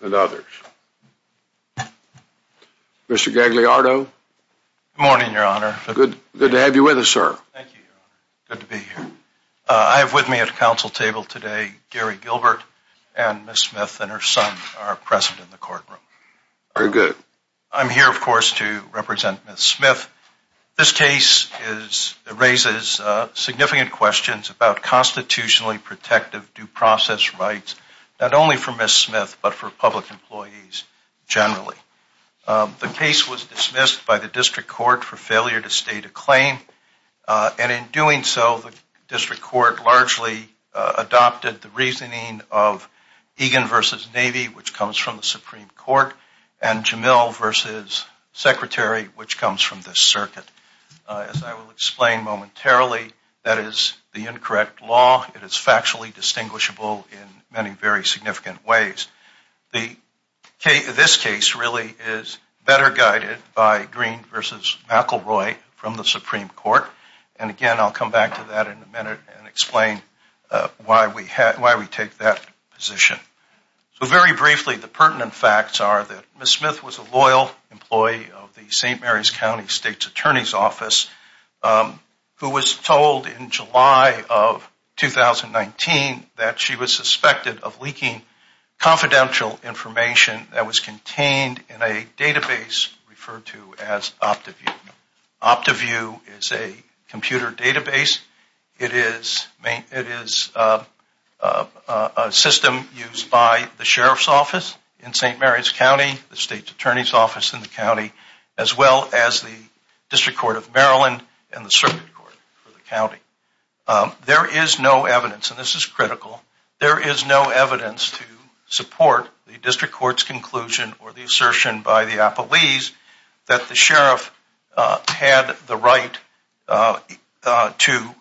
and others. Mr. Gagliardo. Good morning, Your Honor. Good to have you with us, sir. Thank you, Your Honor. Good to be here. I have with me at the council table today Gary Gagliardo, and Ms. Smith and her son are present in the courtroom. Very good. I'm here, of course, to represent Ms. Smith. This case raises significant questions about constitutionally protective due process rights, not only for Ms. Smith, but for public employees generally. The case was dismissed by the district court for failure to state a claim, and in doing so, the district court largely adopted the reasoning of Egan v. Navy, which comes from the Supreme Court, and Jamil v. Secretary, which comes from this circuit. As I will explain momentarily, that is the incorrect law. It is factually distinguishable in many very significant ways. This case really is better guided by Green v. McElroy from the Supreme Court, and again, I'll come back to that in a minute and explain why we take that position. So very briefly, the pertinent facts are that Ms. Smith was a loyal employee of the St. Mary's County State's Attorney's Office, who was told in July of 2019 that she was suspected of leaking confidential information that was contained in a database referred to as OptiView. OptiView is a computer database. It is a system used by the Sheriff's Office in St. Mary's County, the State's Attorney's Office in the county, as well as the District Court of Maryland and the Circuit Court for the county. There is no evidence, and this is critical, there is no evidence to support the District Court's conclusion or the assertion by the appellees that the Sheriff had the right to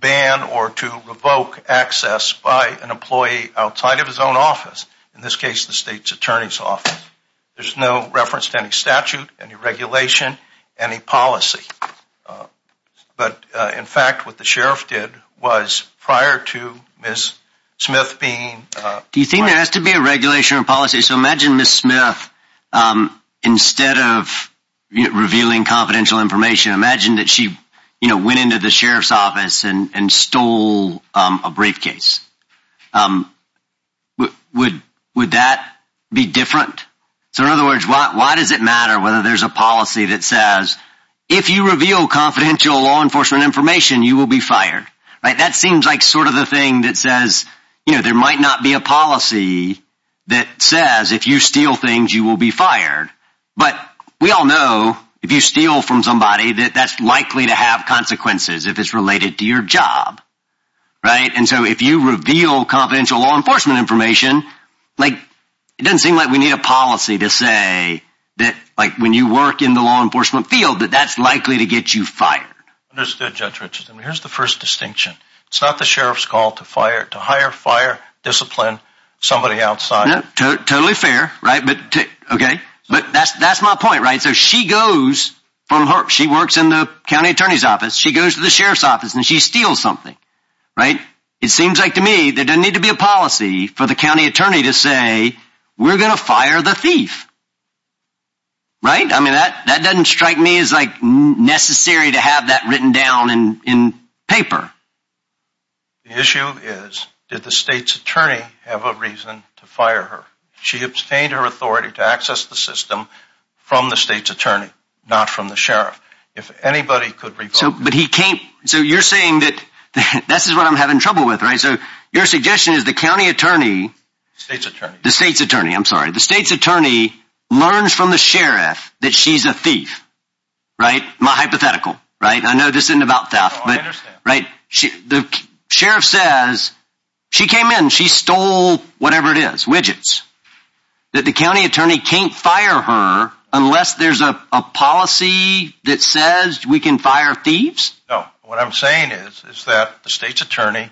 ban or to revoke access by an employee outside of his own office, in this case, the State's Attorney's Office. There's no reference to any statute, any regulation, any policy. But in fact, what the Sheriff did was prior to Ms. Smith being... So in other words, why does it matter whether there's a policy that says, if you reveal confidential law enforcement information, you will be fired? Right? That seems like sort of the thing that says, you know, there might not be a policy that says if you steal things, you will be fired. But we all know, if you steal from somebody, that that's likely to have consequences if it's related to your job. Right? And so if you reveal confidential law enforcement information, like, it doesn't seem like we need a policy to say that, like, when you work in the law enforcement field, that that's likely to get you fired. Understood, Judge Richardson. Here's the first distinction. It's not the Sheriff's call to fire, to hire, fire, discipline somebody outside. Totally fair, right? But, okay. But that's my point, right? So she goes from her, she works in the County Attorney's Office, she goes to the Sheriff's Office, and she steals something. Right? It seems like to me, there doesn't need to be a policy for the County Attorney to say, we're going to fire the thief. Right? I mean, that doesn't strike me as, like, necessary to have that written down in paper. The issue is, did the State's Attorney have a reason to fire her? She obtained her authority to access the system from the State's Attorney, not from the Sheriff. If anybody could recall... So you're saying that this is what I'm having trouble with, right? So your suggestion is the County Attorney... State's Attorney. The State's Attorney. I'm sorry. The State's Attorney learns from the Sheriff that she's a thief. Right? My hypothetical. Right? I know this isn't about theft, but... No, I understand. Right? The Sheriff says, she came in, she stole whatever it is. Widgets. That the County Attorney can't fire her unless there's a policy that says we can fire thieves? No. What I'm saying is that the State's Attorney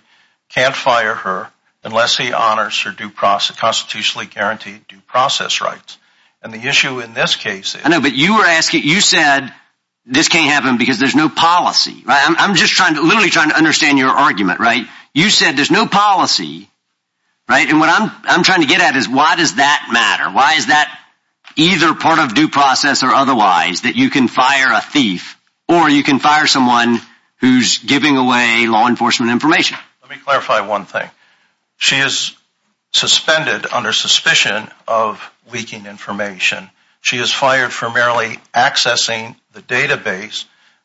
can't fire her unless he honors her constitutionally guaranteed due process rights. And the issue in this case is... I know, but you were asking, you said this can't happen because there's no policy. Right? I'm just trying to, literally trying to understand your argument. Right? You said there's no policy. Right? And what I'm trying to get at is why does that matter? Why is that either part of due process or otherwise that you can fire a thief or you can fire someone who's giving away law enforcement information? Let me clarify one thing. She is suspended under suspicion of leaking information. She is fired for merely accessing the database,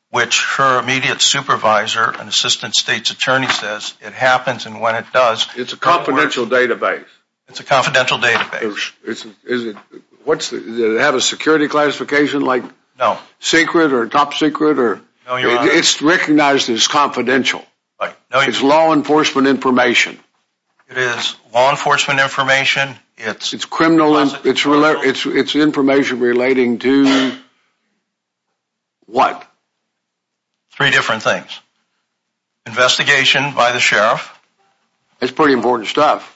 which her immediate supervisor and Assistant State's Attorney says it happens and when it does... It's a confidential database. It's a confidential database. Is it, what's the, does it have a security classification like... No. Secret or top secret or... No, Your Honor. It's recognized as confidential. Right. It's law enforcement information. It is law enforcement information. It's... It's criminal... It's information relating to... What? Three different things. Investigation by the Sheriff. That's pretty important stuff.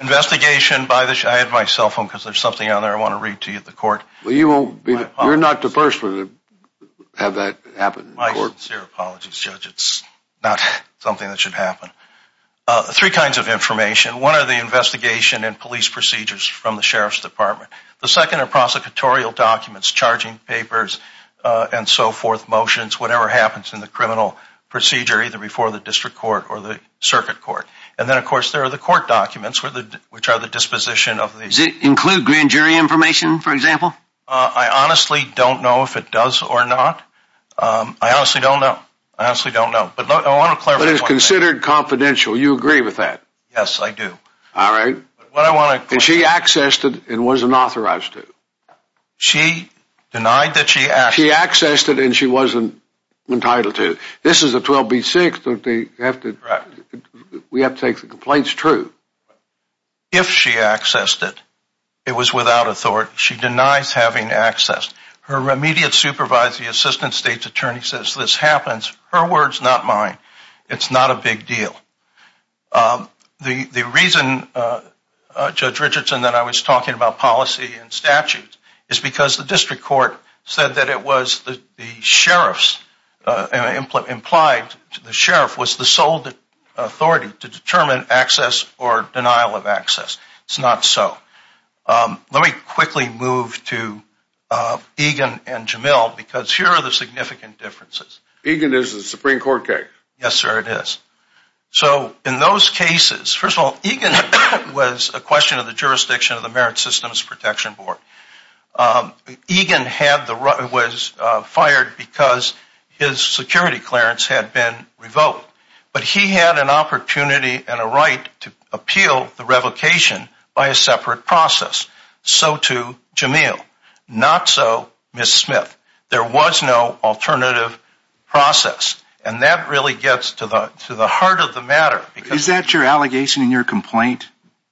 Investigation by the, I had my cell phone because there's something on there I want to read to you at the court. Well, you won't be, you're not the person to have that happen in court. My sincere apologies, Judge. It's not something that should happen. Three kinds of information. One are the investigation and police procedures from the Sheriff's Department. The second are prosecutorial documents, charging papers and so forth, motions, whatever happens in the criminal procedure either before the District Court or the Circuit Court. And then, of course, there are the court documents, which are the disposition of the... Does it include grand jury information, for example? I honestly don't know if it does or not. I honestly don't know. I honestly don't know. But I want to clarify... But it's considered confidential. You agree with that? Yes, I do. All right. What I want to... And she accessed it and wasn't authorized to. She denied that she accessed... She accessed it and she wasn't entitled to. This is a 12B6, don't they have to... Correct. We have to take the complaints true. If she accessed it, it was without authority. She denies having accessed. Her immediate supervisor, the Assistant State's Attorney, says this happens. Her words, not mine. It's not a big deal. The reason, Judge Richardson, that I was talking about policy and statute is because the District Court said that it was the Sheriff's... Implied to the Sheriff was the sole authority to determine access or denial of access. It's not so. Let me quickly move to Egan and Jamil because here are the significant differences. Egan is the Supreme Court case. Yes, sir, it is. So in those cases... First of all, Egan was a question of the jurisdiction of the Merit Systems Protection Board. Egan was fired because his security clearance had been revoked. But he had an opportunity and a right to appeal the revocation by a separate process. So too, Jamil. Not so, Ms. Smith. There was no alternative process. And that really gets to the heart of the matter. Is that your allegation in your complaint?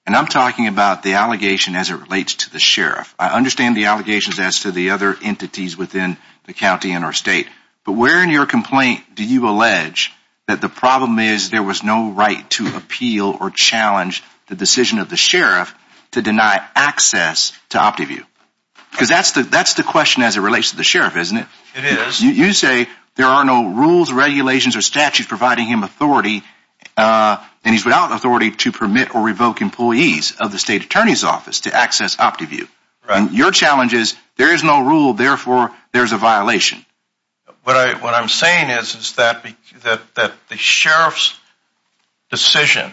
And I'm talking about the allegation as it relates to the Sheriff. I understand the allegations as to the other entities within the county and our state. But where in your complaint do you allege that the problem is there was no right to appeal or challenge the decision of the Sheriff to deny access to OptiView? Because that's the question as it relates to the Sheriff, isn't it? It is. You say there are no rules, regulations, or statutes providing him authority. And he's without authority to permit or revoke employees of the State Attorney's Office to access OptiView. Your challenge is there is no rule. Therefore, there's a violation. What I'm saying is that the Sheriff's decision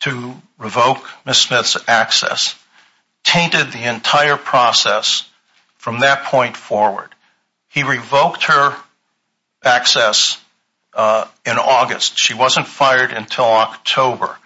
to revoke Ms. Smith's access tainted the entire process from that point forward. He revoked her access in August. She wasn't fired until October.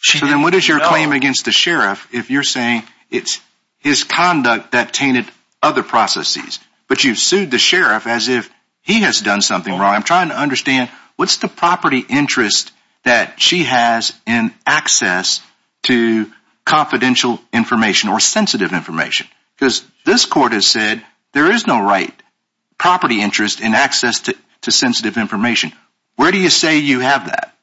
So then what is your claim against the Sheriff if you're saying it's his conduct that tainted other processes? But you've sued the Sheriff as if he has done something wrong. I'm trying to understand what's the property interest that she has in access to confidential information or sensitive information? Because this court has said there is no right property interest in access to sensitive information. Where do you say you have that?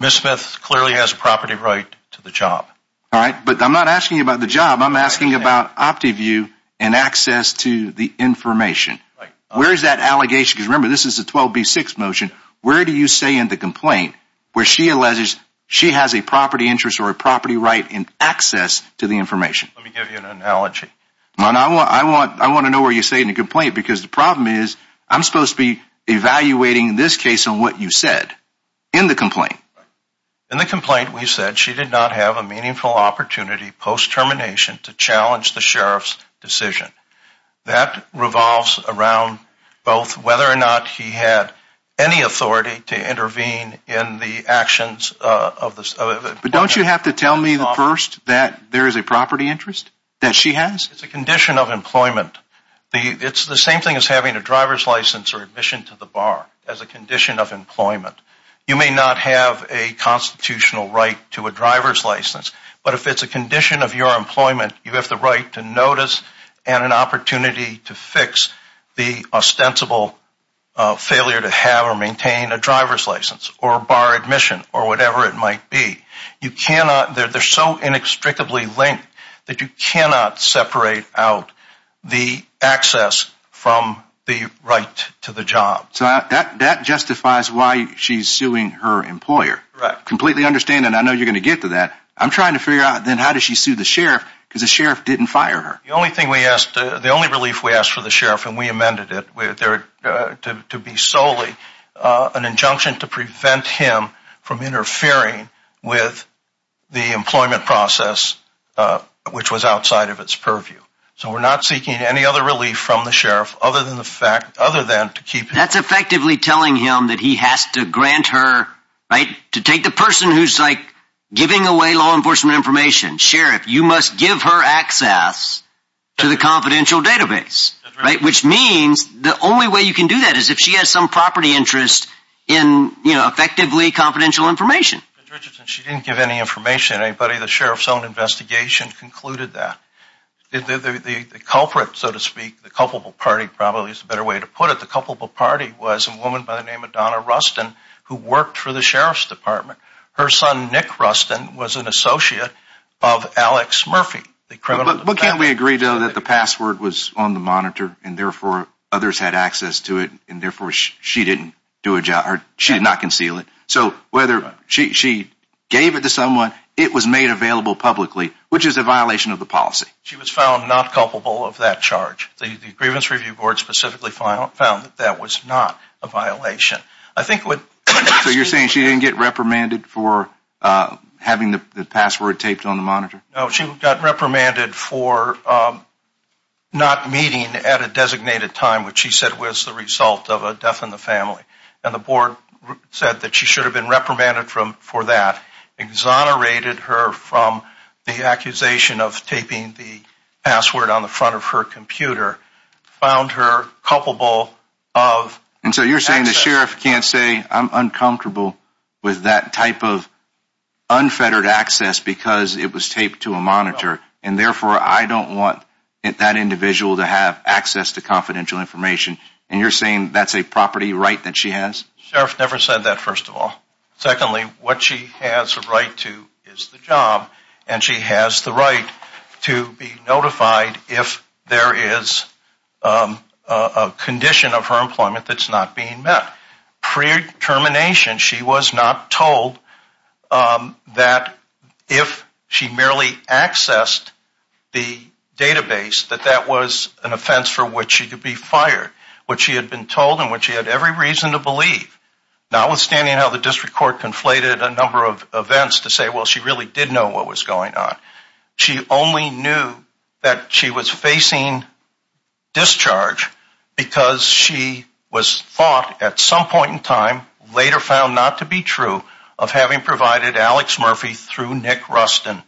Ms. Smith clearly has a property right to the job. All right, but I'm not asking you about the job. I'm asking about OptiView and access to the information. Where is that allegation? Because remember, this is a 12B6 motion. Where do you say in the complaint where she alleges she has a property interest or a property right in access to the information? Let me give you an analogy. I want to know where you say in the complaint because the problem is I'm supposed to be evaluating this case on what you said in the complaint. In the complaint, we said she did not have a meaningful opportunity post-termination to challenge the Sheriff's decision. That revolves around both whether or not he had any authority to intervene in the actions of the… But don't you have to tell me first that there is a property interest that she has? It's a condition of employment. It's the same thing as having a driver's license or admission to the bar as a condition of employment. You may not have a constitutional right to a driver's license, but if it's a condition of your employment, you have the right to notice and an opportunity to fix the ostensible failure to have or maintain a driver's license or a bar admission or whatever it might be. You cannot… They're so inextricably linked that you cannot separate out the access from the right to the job. So that justifies why she's suing her employer? Correct. I completely understand and I know you're going to get to that. I'm trying to figure out then how does she sue the Sheriff because the Sheriff didn't fire her? The only relief we asked for the Sheriff and we amended it to be solely an injunction to prevent him from interfering with the employment process, which was outside of its purview. So we're not seeking any other relief from the Sheriff other than to keep him… That's effectively telling him that he has to grant her… To take the person who's giving away law enforcement information, Sheriff, you must give her access to the confidential database, which means the only way you can do that is if she has some property interest in effectively confidential information. She didn't give any information. The Sheriff's own investigation concluded that. The culprit, so to speak, the culpable party probably is a better way to put it. The culpable party was a woman by the name of Donna Rustin who worked for the Sheriff's Department. Her son, Nick Rustin, was an associate of Alex Murphy, the criminal… But can't we agree, though, that the password was on the monitor and therefore others had access to it and therefore she did not conceal it? So whether she gave it to someone, it was made available publicly, which is a violation of the policy. She was found not culpable of that charge. The Grievance Review Board specifically found that that was not a violation. I think what… So you're saying she didn't get reprimanded for having the password taped on the monitor? No, she got reprimanded for not meeting at a designated time, which she said was the result of a death in the family. And the board said that she should have been reprimanded for that, exonerated her from the accusation of taping the password on the front of her computer, found her culpable of… And so you're saying the Sheriff can't say, I'm uncomfortable with that type of unfettered access because it was taped to a monitor, and therefore I don't want that individual to have access to confidential information, and you're saying that's a property right that she has? Sheriff never said that, first of all. Secondly, what she has a right to is the job, and she has the right to be notified if there is a condition of her employment that's not being met. Pre-termination, she was not told that if she merely accessed the database, that that was an offense for which she could be fired. What she had been told and what she had every reason to believe, notwithstanding how the District Court conflated a number of events to say, well, she really did know what was going on. She only knew that she was facing discharge because she was thought, at some point in time, later found not to be true, of having provided Alex Murphy through Nick Rustin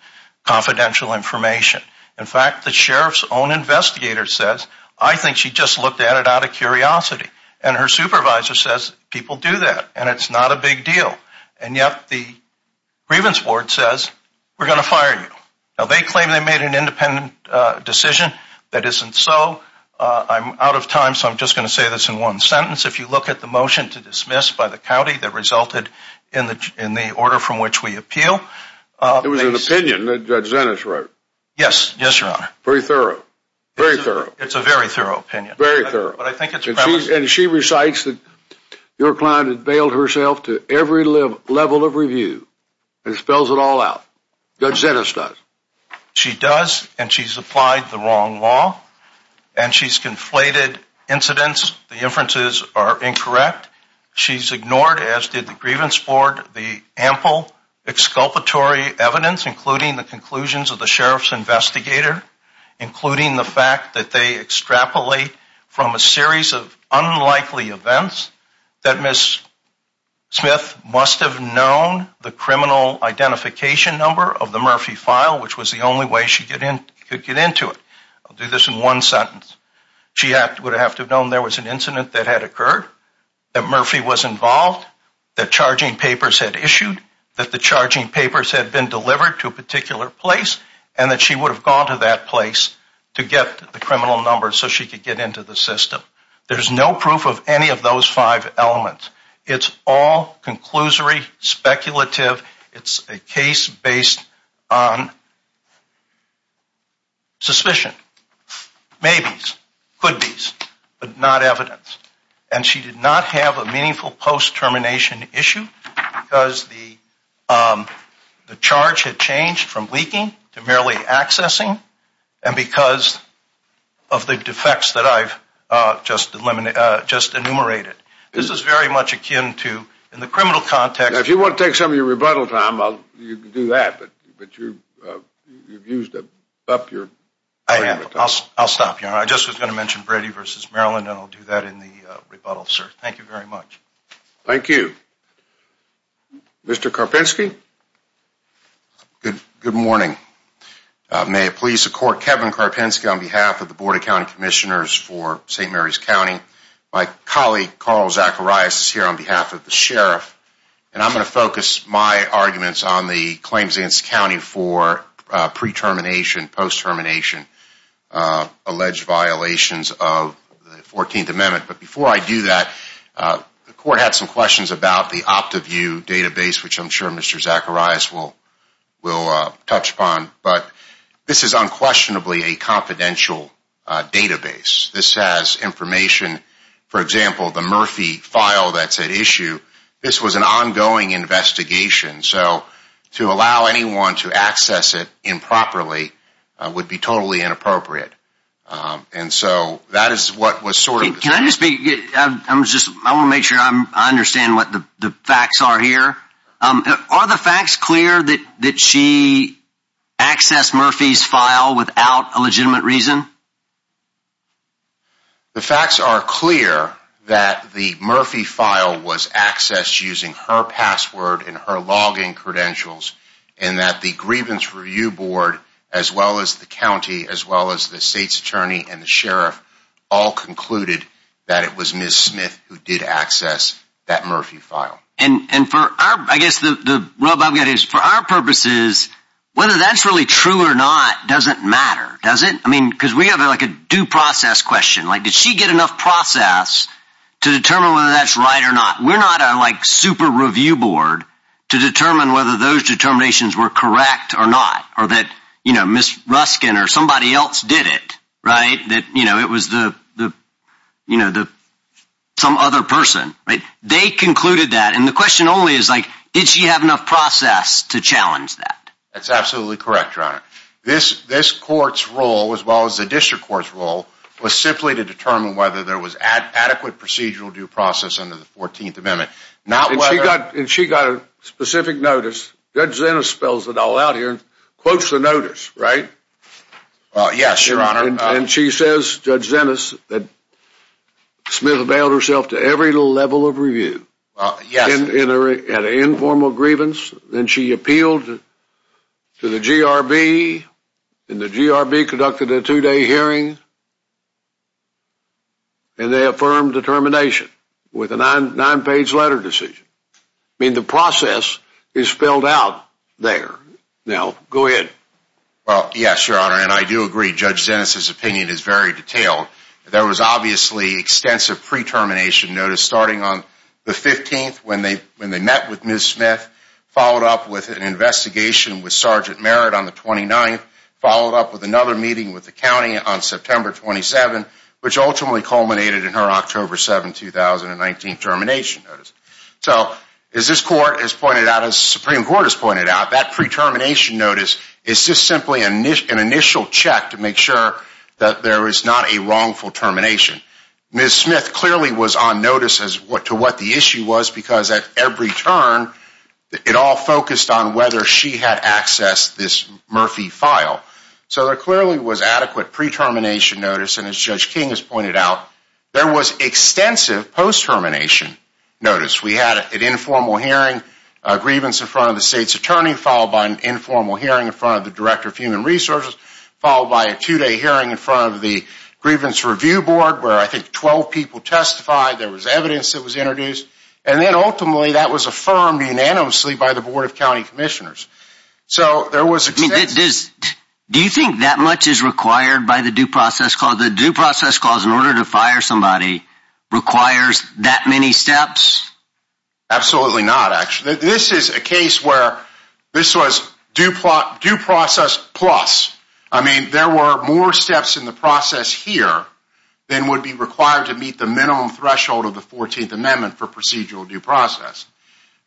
confidential information. In fact, the Sheriff's own investigator says, I think she just looked at it out of curiosity. And her supervisor says, people do that, and it's not a big deal. And yet the grievance board says, we're going to fire you. Now, they claim they made an independent decision. That isn't so. I'm out of time, so I'm just going to say this in one sentence. If you look at the motion to dismiss by the county that resulted in the order from which we appeal. It was an opinion that Judge Zenitz wrote. Yes, yes, Your Honor. Very thorough, very thorough. It's a very thorough opinion. Very thorough. And she recites that your client had veiled herself to every level of review, and spells it all out. Judge Zenitz does. She does, and she's applied the wrong law, and she's conflated incidents. The inferences are incorrect. She's ignored, as did the grievance board, the ample exculpatory evidence, including the conclusions of the Sheriff's investigator, including the fact that they extrapolate from a series of unlikely events that Ms. Smith must have known the criminal identification number of the Murphy file, which was the only way she could get into it. I'll do this in one sentence. She would have to have known there was an incident that had occurred, that Murphy was involved, that charging papers had issued, that the charging papers had been delivered to a particular place, and that she would have gone to that place to get the criminal number so she could get into the system. There's no proof of any of those five elements. It's all conclusory, speculative. It's a case based on suspicion, maybes, couldbes, but not evidence. And she did not have a meaningful post-termination issue because the charge had changed from leaking to merely accessing and because of the defects that I've just enumerated. This is very much akin to, in the criminal context... If you want to take some of your rebuttal time, you can do that, but you've used up your time. I'll stop here. I just was going to mention Brady v. Maryland, and I'll do that in the rebuttal, sir. Thank you very much. Thank you. Mr. Karpinski? Good morning. May it please the Court, Kevin Karpinski, on behalf of the Board of County Commissioners for St. Mary's County. My colleague, Carl Zacharias, is here on behalf of the Sheriff, and I'm going to focus my arguments on the claims against the county for pre-termination, post-termination, alleged violations of the 14th Amendment. But before I do that, the Court had some questions about the OptiView database, which I'm sure Mr. Zacharias will touch upon. But this is unquestionably a confidential database. This has information, for example, the Murphy file that's at issue. This was an ongoing investigation, so to allow anyone to access it improperly would be totally inappropriate. And so that is what was sort of the— Can I just be—I want to make sure I understand what the facts are here. Are the facts clear that she accessed Murphy's file without a legitimate reason? The facts are clear that the Murphy file was accessed using her password and her login credentials, and that the Grievance Review Board, as well as the county, as well as the state's attorney and the sheriff, all concluded that it was Ms. Smith who did access that Murphy file. And for our—I guess the rub I've got is, for our purposes, whether that's really true or not doesn't matter, does it? I mean, because we have like a due process question. Like, did she get enough process to determine whether that's right or not? We're not a, like, super review board to determine whether those determinations were correct or not, or that, you know, Ms. Ruskin or somebody else did it, right? That, you know, it was the, you know, some other person, right? They concluded that, and the question only is, like, did she have enough process to challenge that? That's absolutely correct, Your Honor. This court's role, as well as the district court's role, was simply to determine whether there was adequate procedural due process under the 14th Amendment, not whether— Right, and she got a specific notice. Judge Zenas spells it all out here and quotes the notice, right? Yes, Your Honor. And she says, Judge Zenas, that Smith availed herself to every level of review. Yes. And had an informal grievance, and she appealed to the GRB, and the GRB conducted a two-day hearing, and they affirmed the termination with a nine-page letter decision. I mean, the process is spelled out there. Now, go ahead. Well, yes, Your Honor, and I do agree. Judge Zenas' opinion is very detailed. There was obviously extensive pre-termination notice starting on the 15th when they met with Ms. Smith, followed up with an investigation with Sergeant Merritt on the 29th, followed up with another meeting with the county on September 27th, which ultimately culminated in her October 7, 2019 termination notice. So, as this Court has pointed out, as the Supreme Court has pointed out, that pre-termination notice is just simply an initial check to make sure that there is not a wrongful termination. Ms. Smith clearly was on notice as to what the issue was, because at every turn, it all focused on whether she had accessed this Murphy file. So there clearly was adequate pre-termination notice, and as Judge King has pointed out, there was extensive post-termination notice. We had an informal hearing, a grievance in front of the State's Attorney, followed by an informal hearing in front of the Director of Human Resources, followed by a two-day hearing in front of the Grievance Review Board, where I think 12 people testified. There was evidence that was introduced, and then ultimately, that was affirmed unanimously by the Board of County Commissioners. So there was extensive... Do you think that much is required by the due process clause? The due process clause, in order to fire somebody, requires that many steps? Absolutely not, actually. This is a case where this was due process plus. I mean, there were more steps in the process here than would be required to meet the minimum threshold of the 14th Amendment for procedural due process.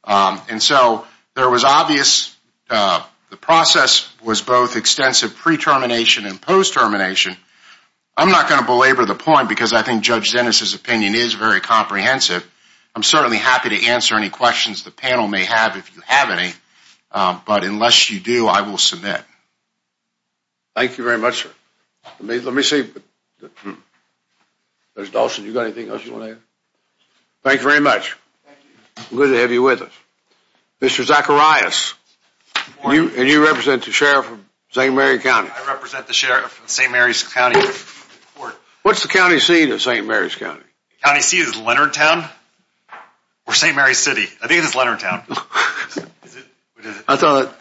And so there was obvious... The process was both extensive pre-termination and post-termination. I'm not going to belabor the point, because I think Judge Dennis' opinion is very comprehensive. I'm certainly happy to answer any questions the panel may have, if you have any. But unless you do, I will submit. Thank you very much. Let me see. Mr. Dawson, do you have anything else you want to add? Thank you very much. Good to have you with us. Mr. Zacharias, and you represent the Sheriff of St. Mary's County. I represent the Sheriff of St. Mary's County. What's the county seat of St. Mary's County? The county seat is Leonardtown, or St. Mary's City. I think it's Leonardtown. I thought...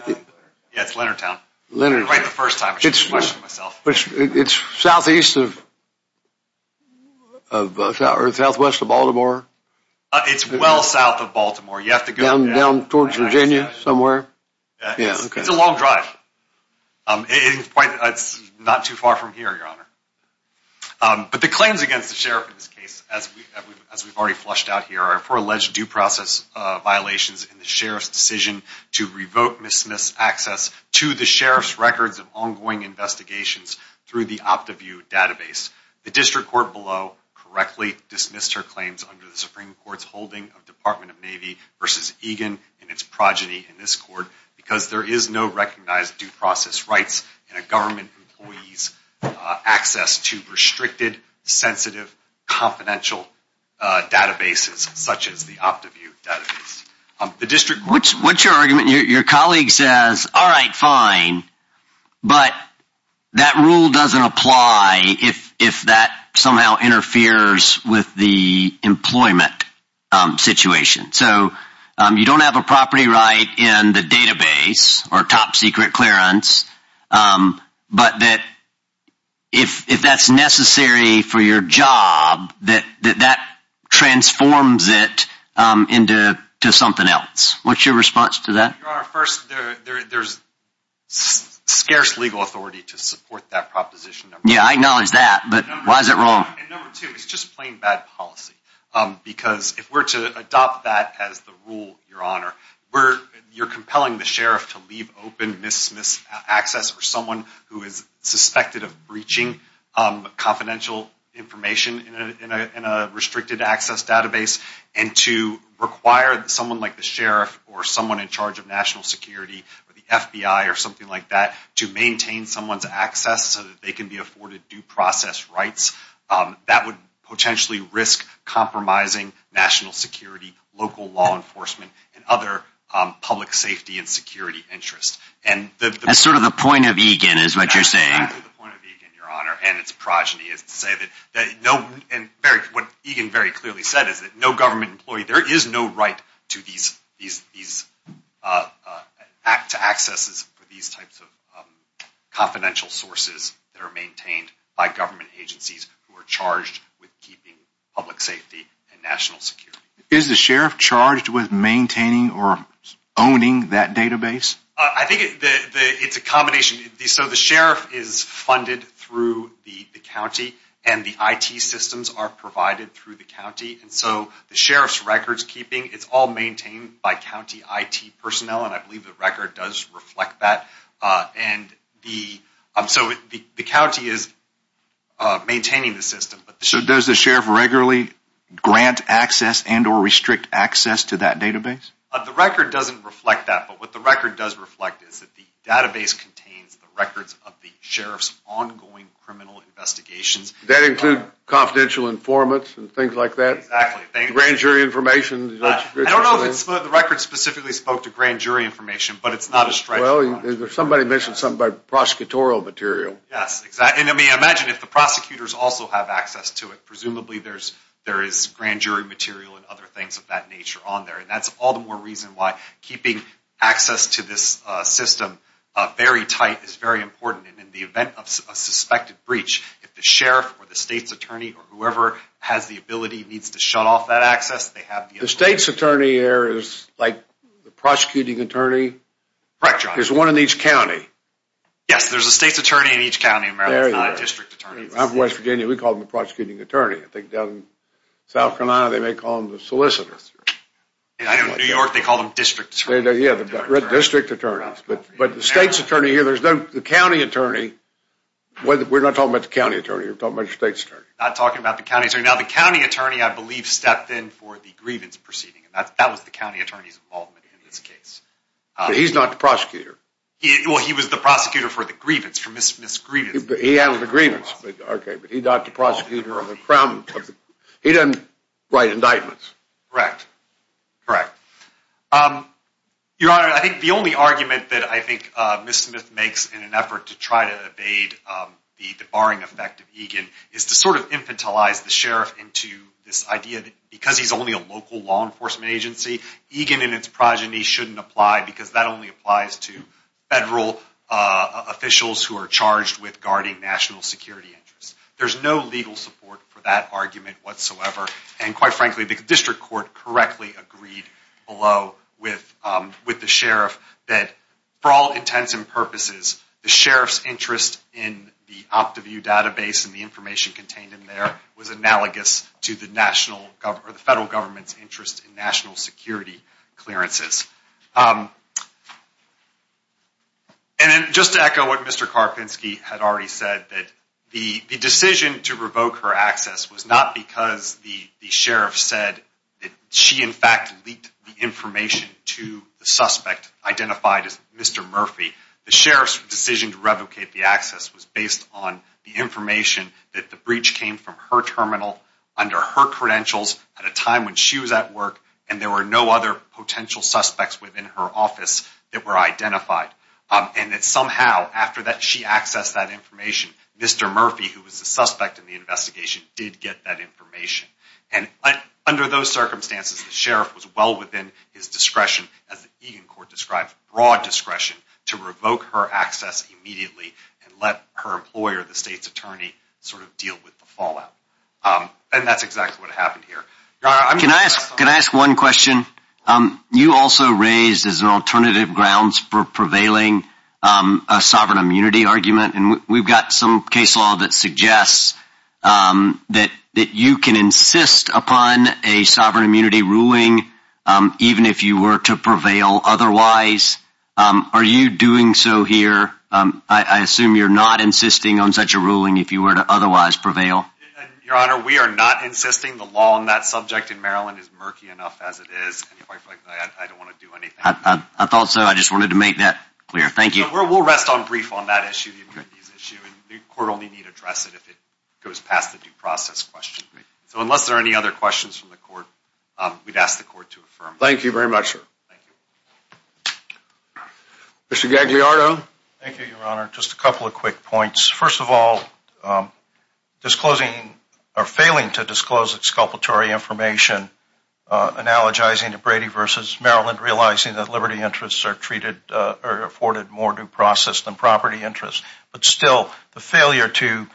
Yeah, it's Leonardtown. Leonardtown. Right the first time, I should have questioned myself. It's southeast of... Or southwest of Baltimore? It's well south of Baltimore. You have to go... Down towards Virginia somewhere? Yeah. It's a long drive. It's not too far from here, Your Honor. But the claims against the Sheriff in this case, as we've already flushed out here, are for alleged due process violations in the Sheriff's decision to revoke, dismiss access to the Sheriff's records of ongoing investigations through the OptiView database. The district court below correctly dismissed her claims under the Supreme Court's holding of Department of Navy v. Egan and its progeny in this court because there is no recognized due process rights in a government employee's access to restricted, sensitive, confidential databases such as the OptiView database. The district court... What's your argument? Your colleague says, all right, fine. But that rule doesn't apply if that somehow interferes with the employment situation. So you don't have a property right in the database or top secret clearance, but that if that's necessary for your job, that that transforms it into something else. What's your response to that? Your Honor, first, there's scarce legal authority to support that proposition. Yeah, I acknowledge that, but why is it wrong? And number two, it's just plain bad policy. Because if we're to adopt that as the rule, Your Honor, you're compelling the sheriff to leave open, dismiss access for someone who is suspected of breaching confidential information in a restricted access database and to require someone like the sheriff or someone in charge of national security or the FBI or something like that to maintain someone's access so that they can be afforded due process rights. That would potentially risk compromising national security, local law enforcement, and other public safety and security interests. That's sort of the point of EGAN is what you're saying. That's exactly the point of EGAN, Your Honor, and its progeny is to say that no... And what EGAN very clearly said is that no government employee... There is no right to accesses for these types of confidential sources that are maintained by government agencies who are charged with keeping public safety and national security. Is the sheriff charged with maintaining or owning that database? I think it's a combination. So the sheriff is funded through the county, and the IT systems are provided through the county. And so the sheriff's records keeping, it's all maintained by county IT personnel, and I believe the record does reflect that. And so the county is maintaining the system. So does the sheriff regularly grant access and or restrict access to that database? The record doesn't reflect that. But what the record does reflect is that the database contains the records of the sheriff's ongoing criminal investigations. That includes confidential informants and things like that? Exactly. Grand jury information? I don't know if the record specifically spoke to grand jury information, but it's not a strike... Well, somebody mentioned something about prosecutorial material. Yes, exactly. I mean, imagine if the prosecutors also have access to it. Presumably there is grand jury material and other things of that nature on there, and that's all the more reason why keeping access to this system very tight is very important. And in the event of a suspected breach, if the sheriff or the state's attorney or whoever has the ability needs to shut off that access, they have... The state's attorney there is like the prosecuting attorney? Correct, John. There's one in each county? Yes, there's a state's attorney in each county in Maryland. It's not a district attorney. I'm from West Virginia. We call them the prosecuting attorney. I think down in South Carolina they may call them the solicitor. I know in New York they call them district attorneys. Yeah, the district attorneys. But the state's attorney here, there's no... The county attorney... We're not talking about the county attorney. We're talking about the state's attorney. Not talking about the county attorney. Now, the county attorney, I believe, stepped in for the grievance proceeding. That was the county attorney's involvement in this case. But he's not the prosecutor. Well, he was the prosecutor for the grievance, for Ms. Grievance. He handled the grievance. Okay, but he's not the prosecutor on the Crown. He doesn't write indictments. Correct, correct. Your Honor, I think the only argument that I think Ms. Smith makes in an effort to try to evade the barring effect of Egan is to sort of infantilize the sheriff into this idea that because he's only a local law enforcement agency, Egan and its progeny shouldn't apply because that only applies to federal officials who are charged with guarding national security interests. There's no legal support for that argument whatsoever. And quite frankly, the district court correctly agreed below with the sheriff that for all intents and purposes, the sheriff's interest in the OptiView database and the information contained in there was analogous to the federal government's interest in national security clearances. And just to echo what Mr. Karpinsky had already said, that the decision to revoke her access was not because the sheriff said that she, in fact, leaked the information to the suspect identified as Mr. Murphy. The sheriff's decision to revocate the access was based on the information that the breach came from her terminal under her credentials at a time when she was at work and there were no other potential suspects within her office that were identified. And that somehow, after she accessed that information, Mr. Murphy, who was the suspect in the investigation, did get that information. And under those circumstances, the sheriff was well within his discretion, as the Egan court described, broad discretion, to revoke her access immediately and let her employer, the state's attorney, sort of deal with the fallout. And that's exactly what happened here. Can I ask one question? You also raised, as an alternative grounds for prevailing, a sovereign immunity argument. And we've got some case law that suggests that you can insist upon a sovereign immunity ruling even if you were to prevail otherwise. Are you doing so here? I assume you're not insisting on such a ruling if you were to otherwise prevail. Your Honor, we are not insisting. The law on that subject in Maryland is murky enough as it is. I don't want to do anything. I thought so. I just wanted to make that clear. Thank you. We'll rest on brief on that issue, the immunities issue. The court will need to address it if it goes past the due process question. So unless there are any other questions from the court, we'd ask the court to affirm. Thank you very much, sir. Thank you. Mr. Gagliardo? Thank you, Your Honor. Just a couple of quick points. First of all, failing to disclose exculpatory information, analogizing to Brady v. Maryland, realizing that liberty interests are treated or afforded more due process than property interests, but still the failure to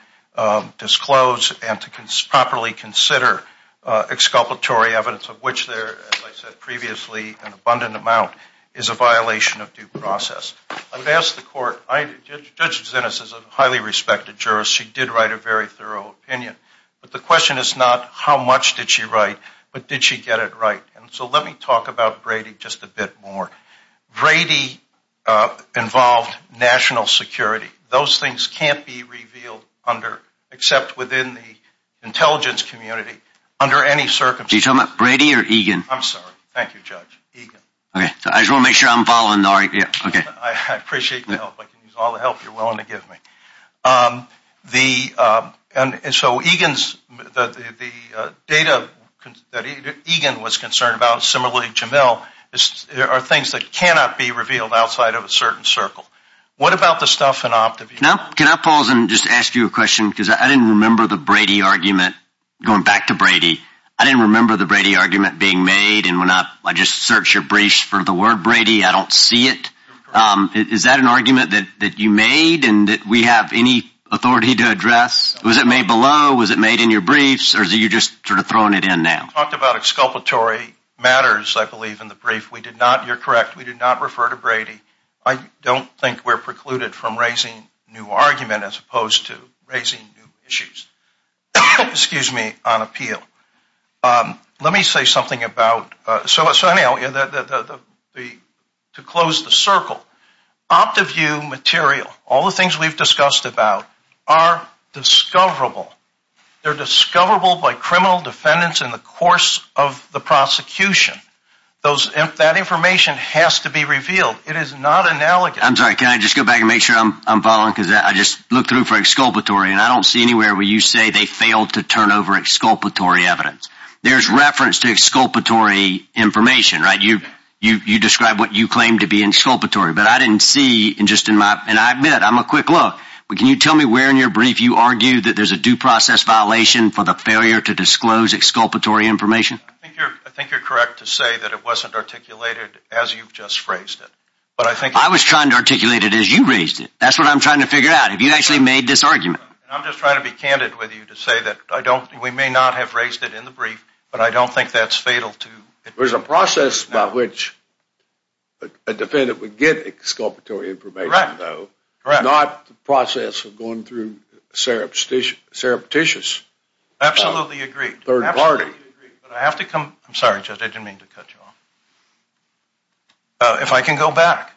disclose and to properly consider exculpatory evidence of which there, as I said previously, an abundant amount is a violation of due process. I've asked the court. Judge Zinnes is a highly respected jurist. She did write a very thorough opinion. But the question is not how much did she write, but did she get it right? And so let me talk about Brady just a bit more. Brady involved national security. Those things can't be revealed under, Are you talking about Brady or Egan? I'm sorry. Thank you, Judge. Egan. Okay. I just want to make sure I'm following. Okay. I appreciate the help. I can use all the help you're willing to give me. And so Egan's, the data that Egan was concerned about, similarly Jamel, are things that cannot be revealed outside of a certain circle. What about the stuff in Optivision? Can I pause and just ask you a question? Because I didn't remember the Brady argument, going back to Brady, I didn't remember the Brady argument being made. And when I just searched your briefs for the word Brady, I don't see it. Is that an argument that you made and that we have any authority to address? Was it made below? Was it made in your briefs? Or are you just sort of throwing it in now? We talked about exculpatory matters, I believe, in the brief. We did not, you're correct, we did not refer to Brady. I don't think we're precluded from raising new argument as opposed to raising new issues. Excuse me, on appeal. Let me say something about, so anyhow, to close the circle, Optiview material, all the things we've discussed about, are discoverable. They're discoverable by criminal defendants in the course of the prosecution. That information has to be revealed. It is not analogous. I'm sorry, can I just go back and make sure I'm following? Because I just looked through for exculpatory and I don't see anywhere where you say they failed to turn over exculpatory evidence. There's reference to exculpatory information, right? You describe what you claim to be exculpatory. But I didn't see, and I admit, I'm a quick look, but can you tell me where in your brief you argue that there's a due process violation for the failure to disclose exculpatory information? I think you're correct to say that it wasn't articulated as you've just phrased it. I was trying to articulate it as you raised it. That's what I'm trying to figure out. Have you actually made this argument? I'm just trying to be candid with you to say that we may not have raised it in the brief, but I don't think that's fatal to it. There's a process by which a defendant would get exculpatory information, though, not the process of going through surreptitious third party. Absolutely agree. But I have to come, I'm sorry, Judge, I didn't mean to cut you off. If I can go back.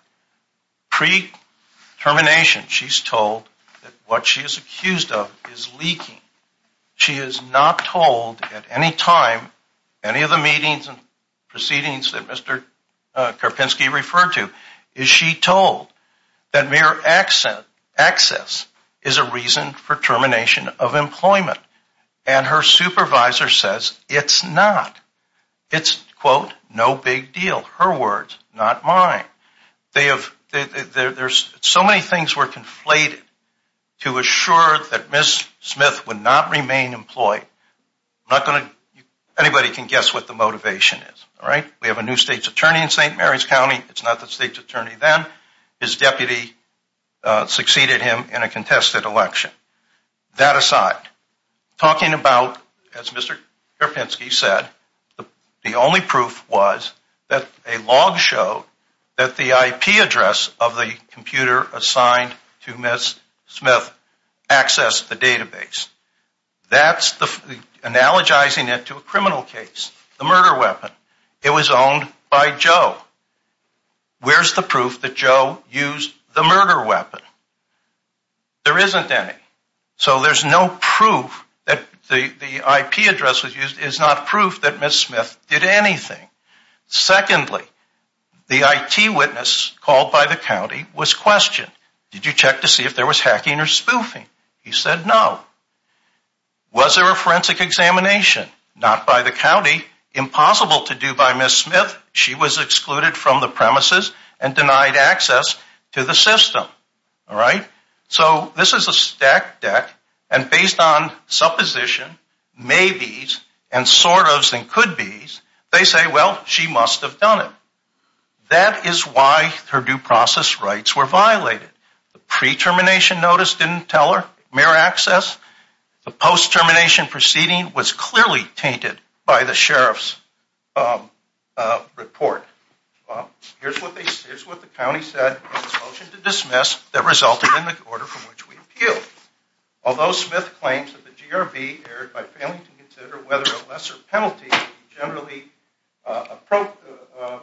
Pre-termination she's told that what she is accused of is leaking. She is not told at any time, any of the meetings and proceedings that Mr. Karpinski referred to, is she told that mere access is a reason for termination of employment. And her supervisor says it's not. It's, quote, no big deal. Her words, not mine. There's so many things were conflated to assure that Ms. Smith would not remain employed. Anybody can guess what the motivation is. We have a new state's attorney in St. Mary's County. It's not the state's attorney then. His deputy succeeded him in a contested election. That aside, talking about, as Mr. Karpinski said, the only proof was that a log showed that the IP address of the computer assigned to Ms. Smith accessed the database. That's analogizing it to a criminal case, the murder weapon. It was owned by Joe. Where's the proof that Joe used the murder weapon? There isn't any. So there's no proof that the IP address was used is not proof that Ms. Smith did anything. Secondly, the IT witness called by the county was questioned. Did you check to see if there was hacking or spoofing? He said no. Was there a forensic examination? Not by the county. Impossible to do by Ms. Smith. She was excluded from the premises and denied access to the system. All right. So this is a stack deck. And based on supposition, maybes and sort ofs and couldbes, they say, well, she must have done it. That is why her due process rights were violated. The pre-termination notice didn't tell her mere access. The post-termination proceeding was clearly tainted by the sheriff's report. Well, here's what the county said in its motion to dismiss that resulted in the order from which we appealed. Although Smith claims that the GRB erred by failing to consider whether a lesser penalty generally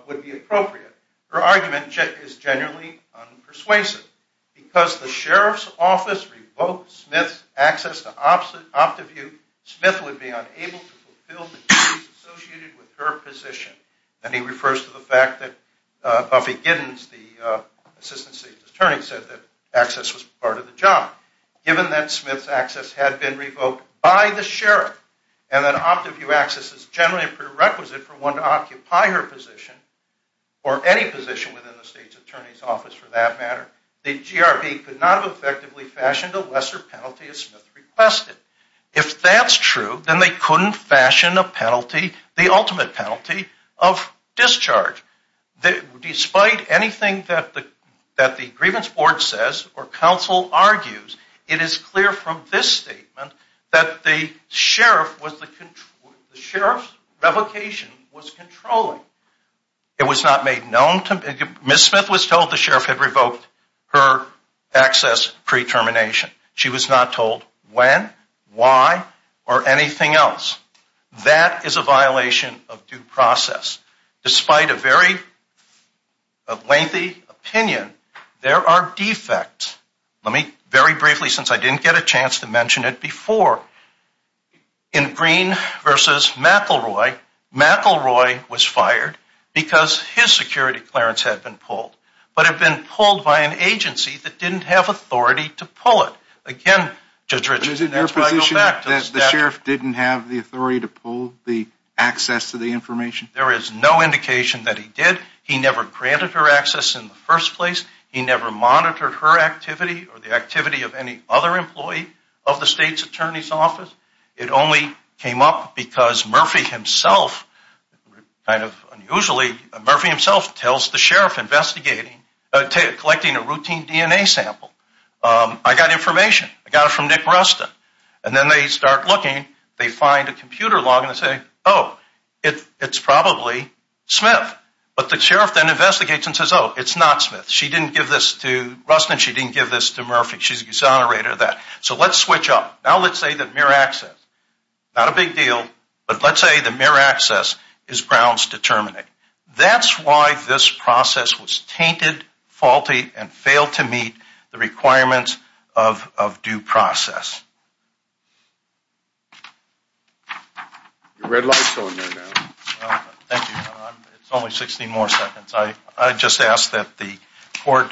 would be appropriate, her argument is generally unpersuasive. Because the sheriff's office revoked Smith's access to OptiView, Smith would be unable to fulfill the duties associated with her position. And he refers to the fact that Buffy Giddens, the assistant state's attorney, said that access was part of the job. Given that Smith's access had been revoked by the sheriff and that OptiView access is generally a prerequisite for one to occupy her position or any position within the state's attorney's office for that matter, the GRB could not have effectively fashioned a lesser penalty as Smith requested. If that's true, then they couldn't fashion a penalty, the ultimate penalty, of discharge. Despite anything that the grievance board says or counsel argues, it is clear from this statement that the sheriff's revocation was controlling. It was not made known. Ms. Smith was told the sheriff had revoked her access pre-termination. She was not told when, why, or anything else. That is a violation of due process. Despite a very lengthy opinion, there are defects. Let me very briefly, since I didn't get a chance to mention it before, in Green v. McElroy, McElroy was fired because his security clearance had been pulled but had been pulled by an agency that didn't have authority to pull it. Again, Judge Richardson, that's why I go back to the statute. But is it your position that the sheriff didn't have the authority to pull the access to the information? There is no indication that he did. He never granted her access in the first place. He never monitored her activity or the activity of any other employee of the state's attorney's office. It only came up because Murphy himself, kind of unusually, Murphy himself tells the sheriff investigating, collecting a routine DNA sample, I got information. I got it from Nick Rustin. And then they start looking. They find a computer log and they say, oh, it's probably Smith. But the sheriff then investigates and says, oh, it's not Smith. She didn't give this to Rustin. She didn't give this to Murphy. She's exonerated of that. So let's switch up. Now let's say that mere access, not a big deal, but let's say the mere access is Brown's determinate. That's why this process was tainted, faulty, and failed to meet the requirements of due process. Your red light's on there now. Thank you. It's only 16 more seconds. I just ask that the court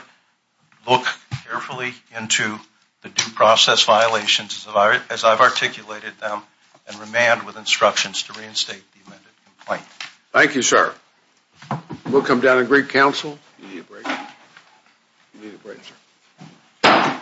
look carefully into the due process violations as I've articulated them and remand with instructions to reinstate the amended complaint. Thank you, sir. We'll come down and greet counsel. You need a break. You need a break, sir.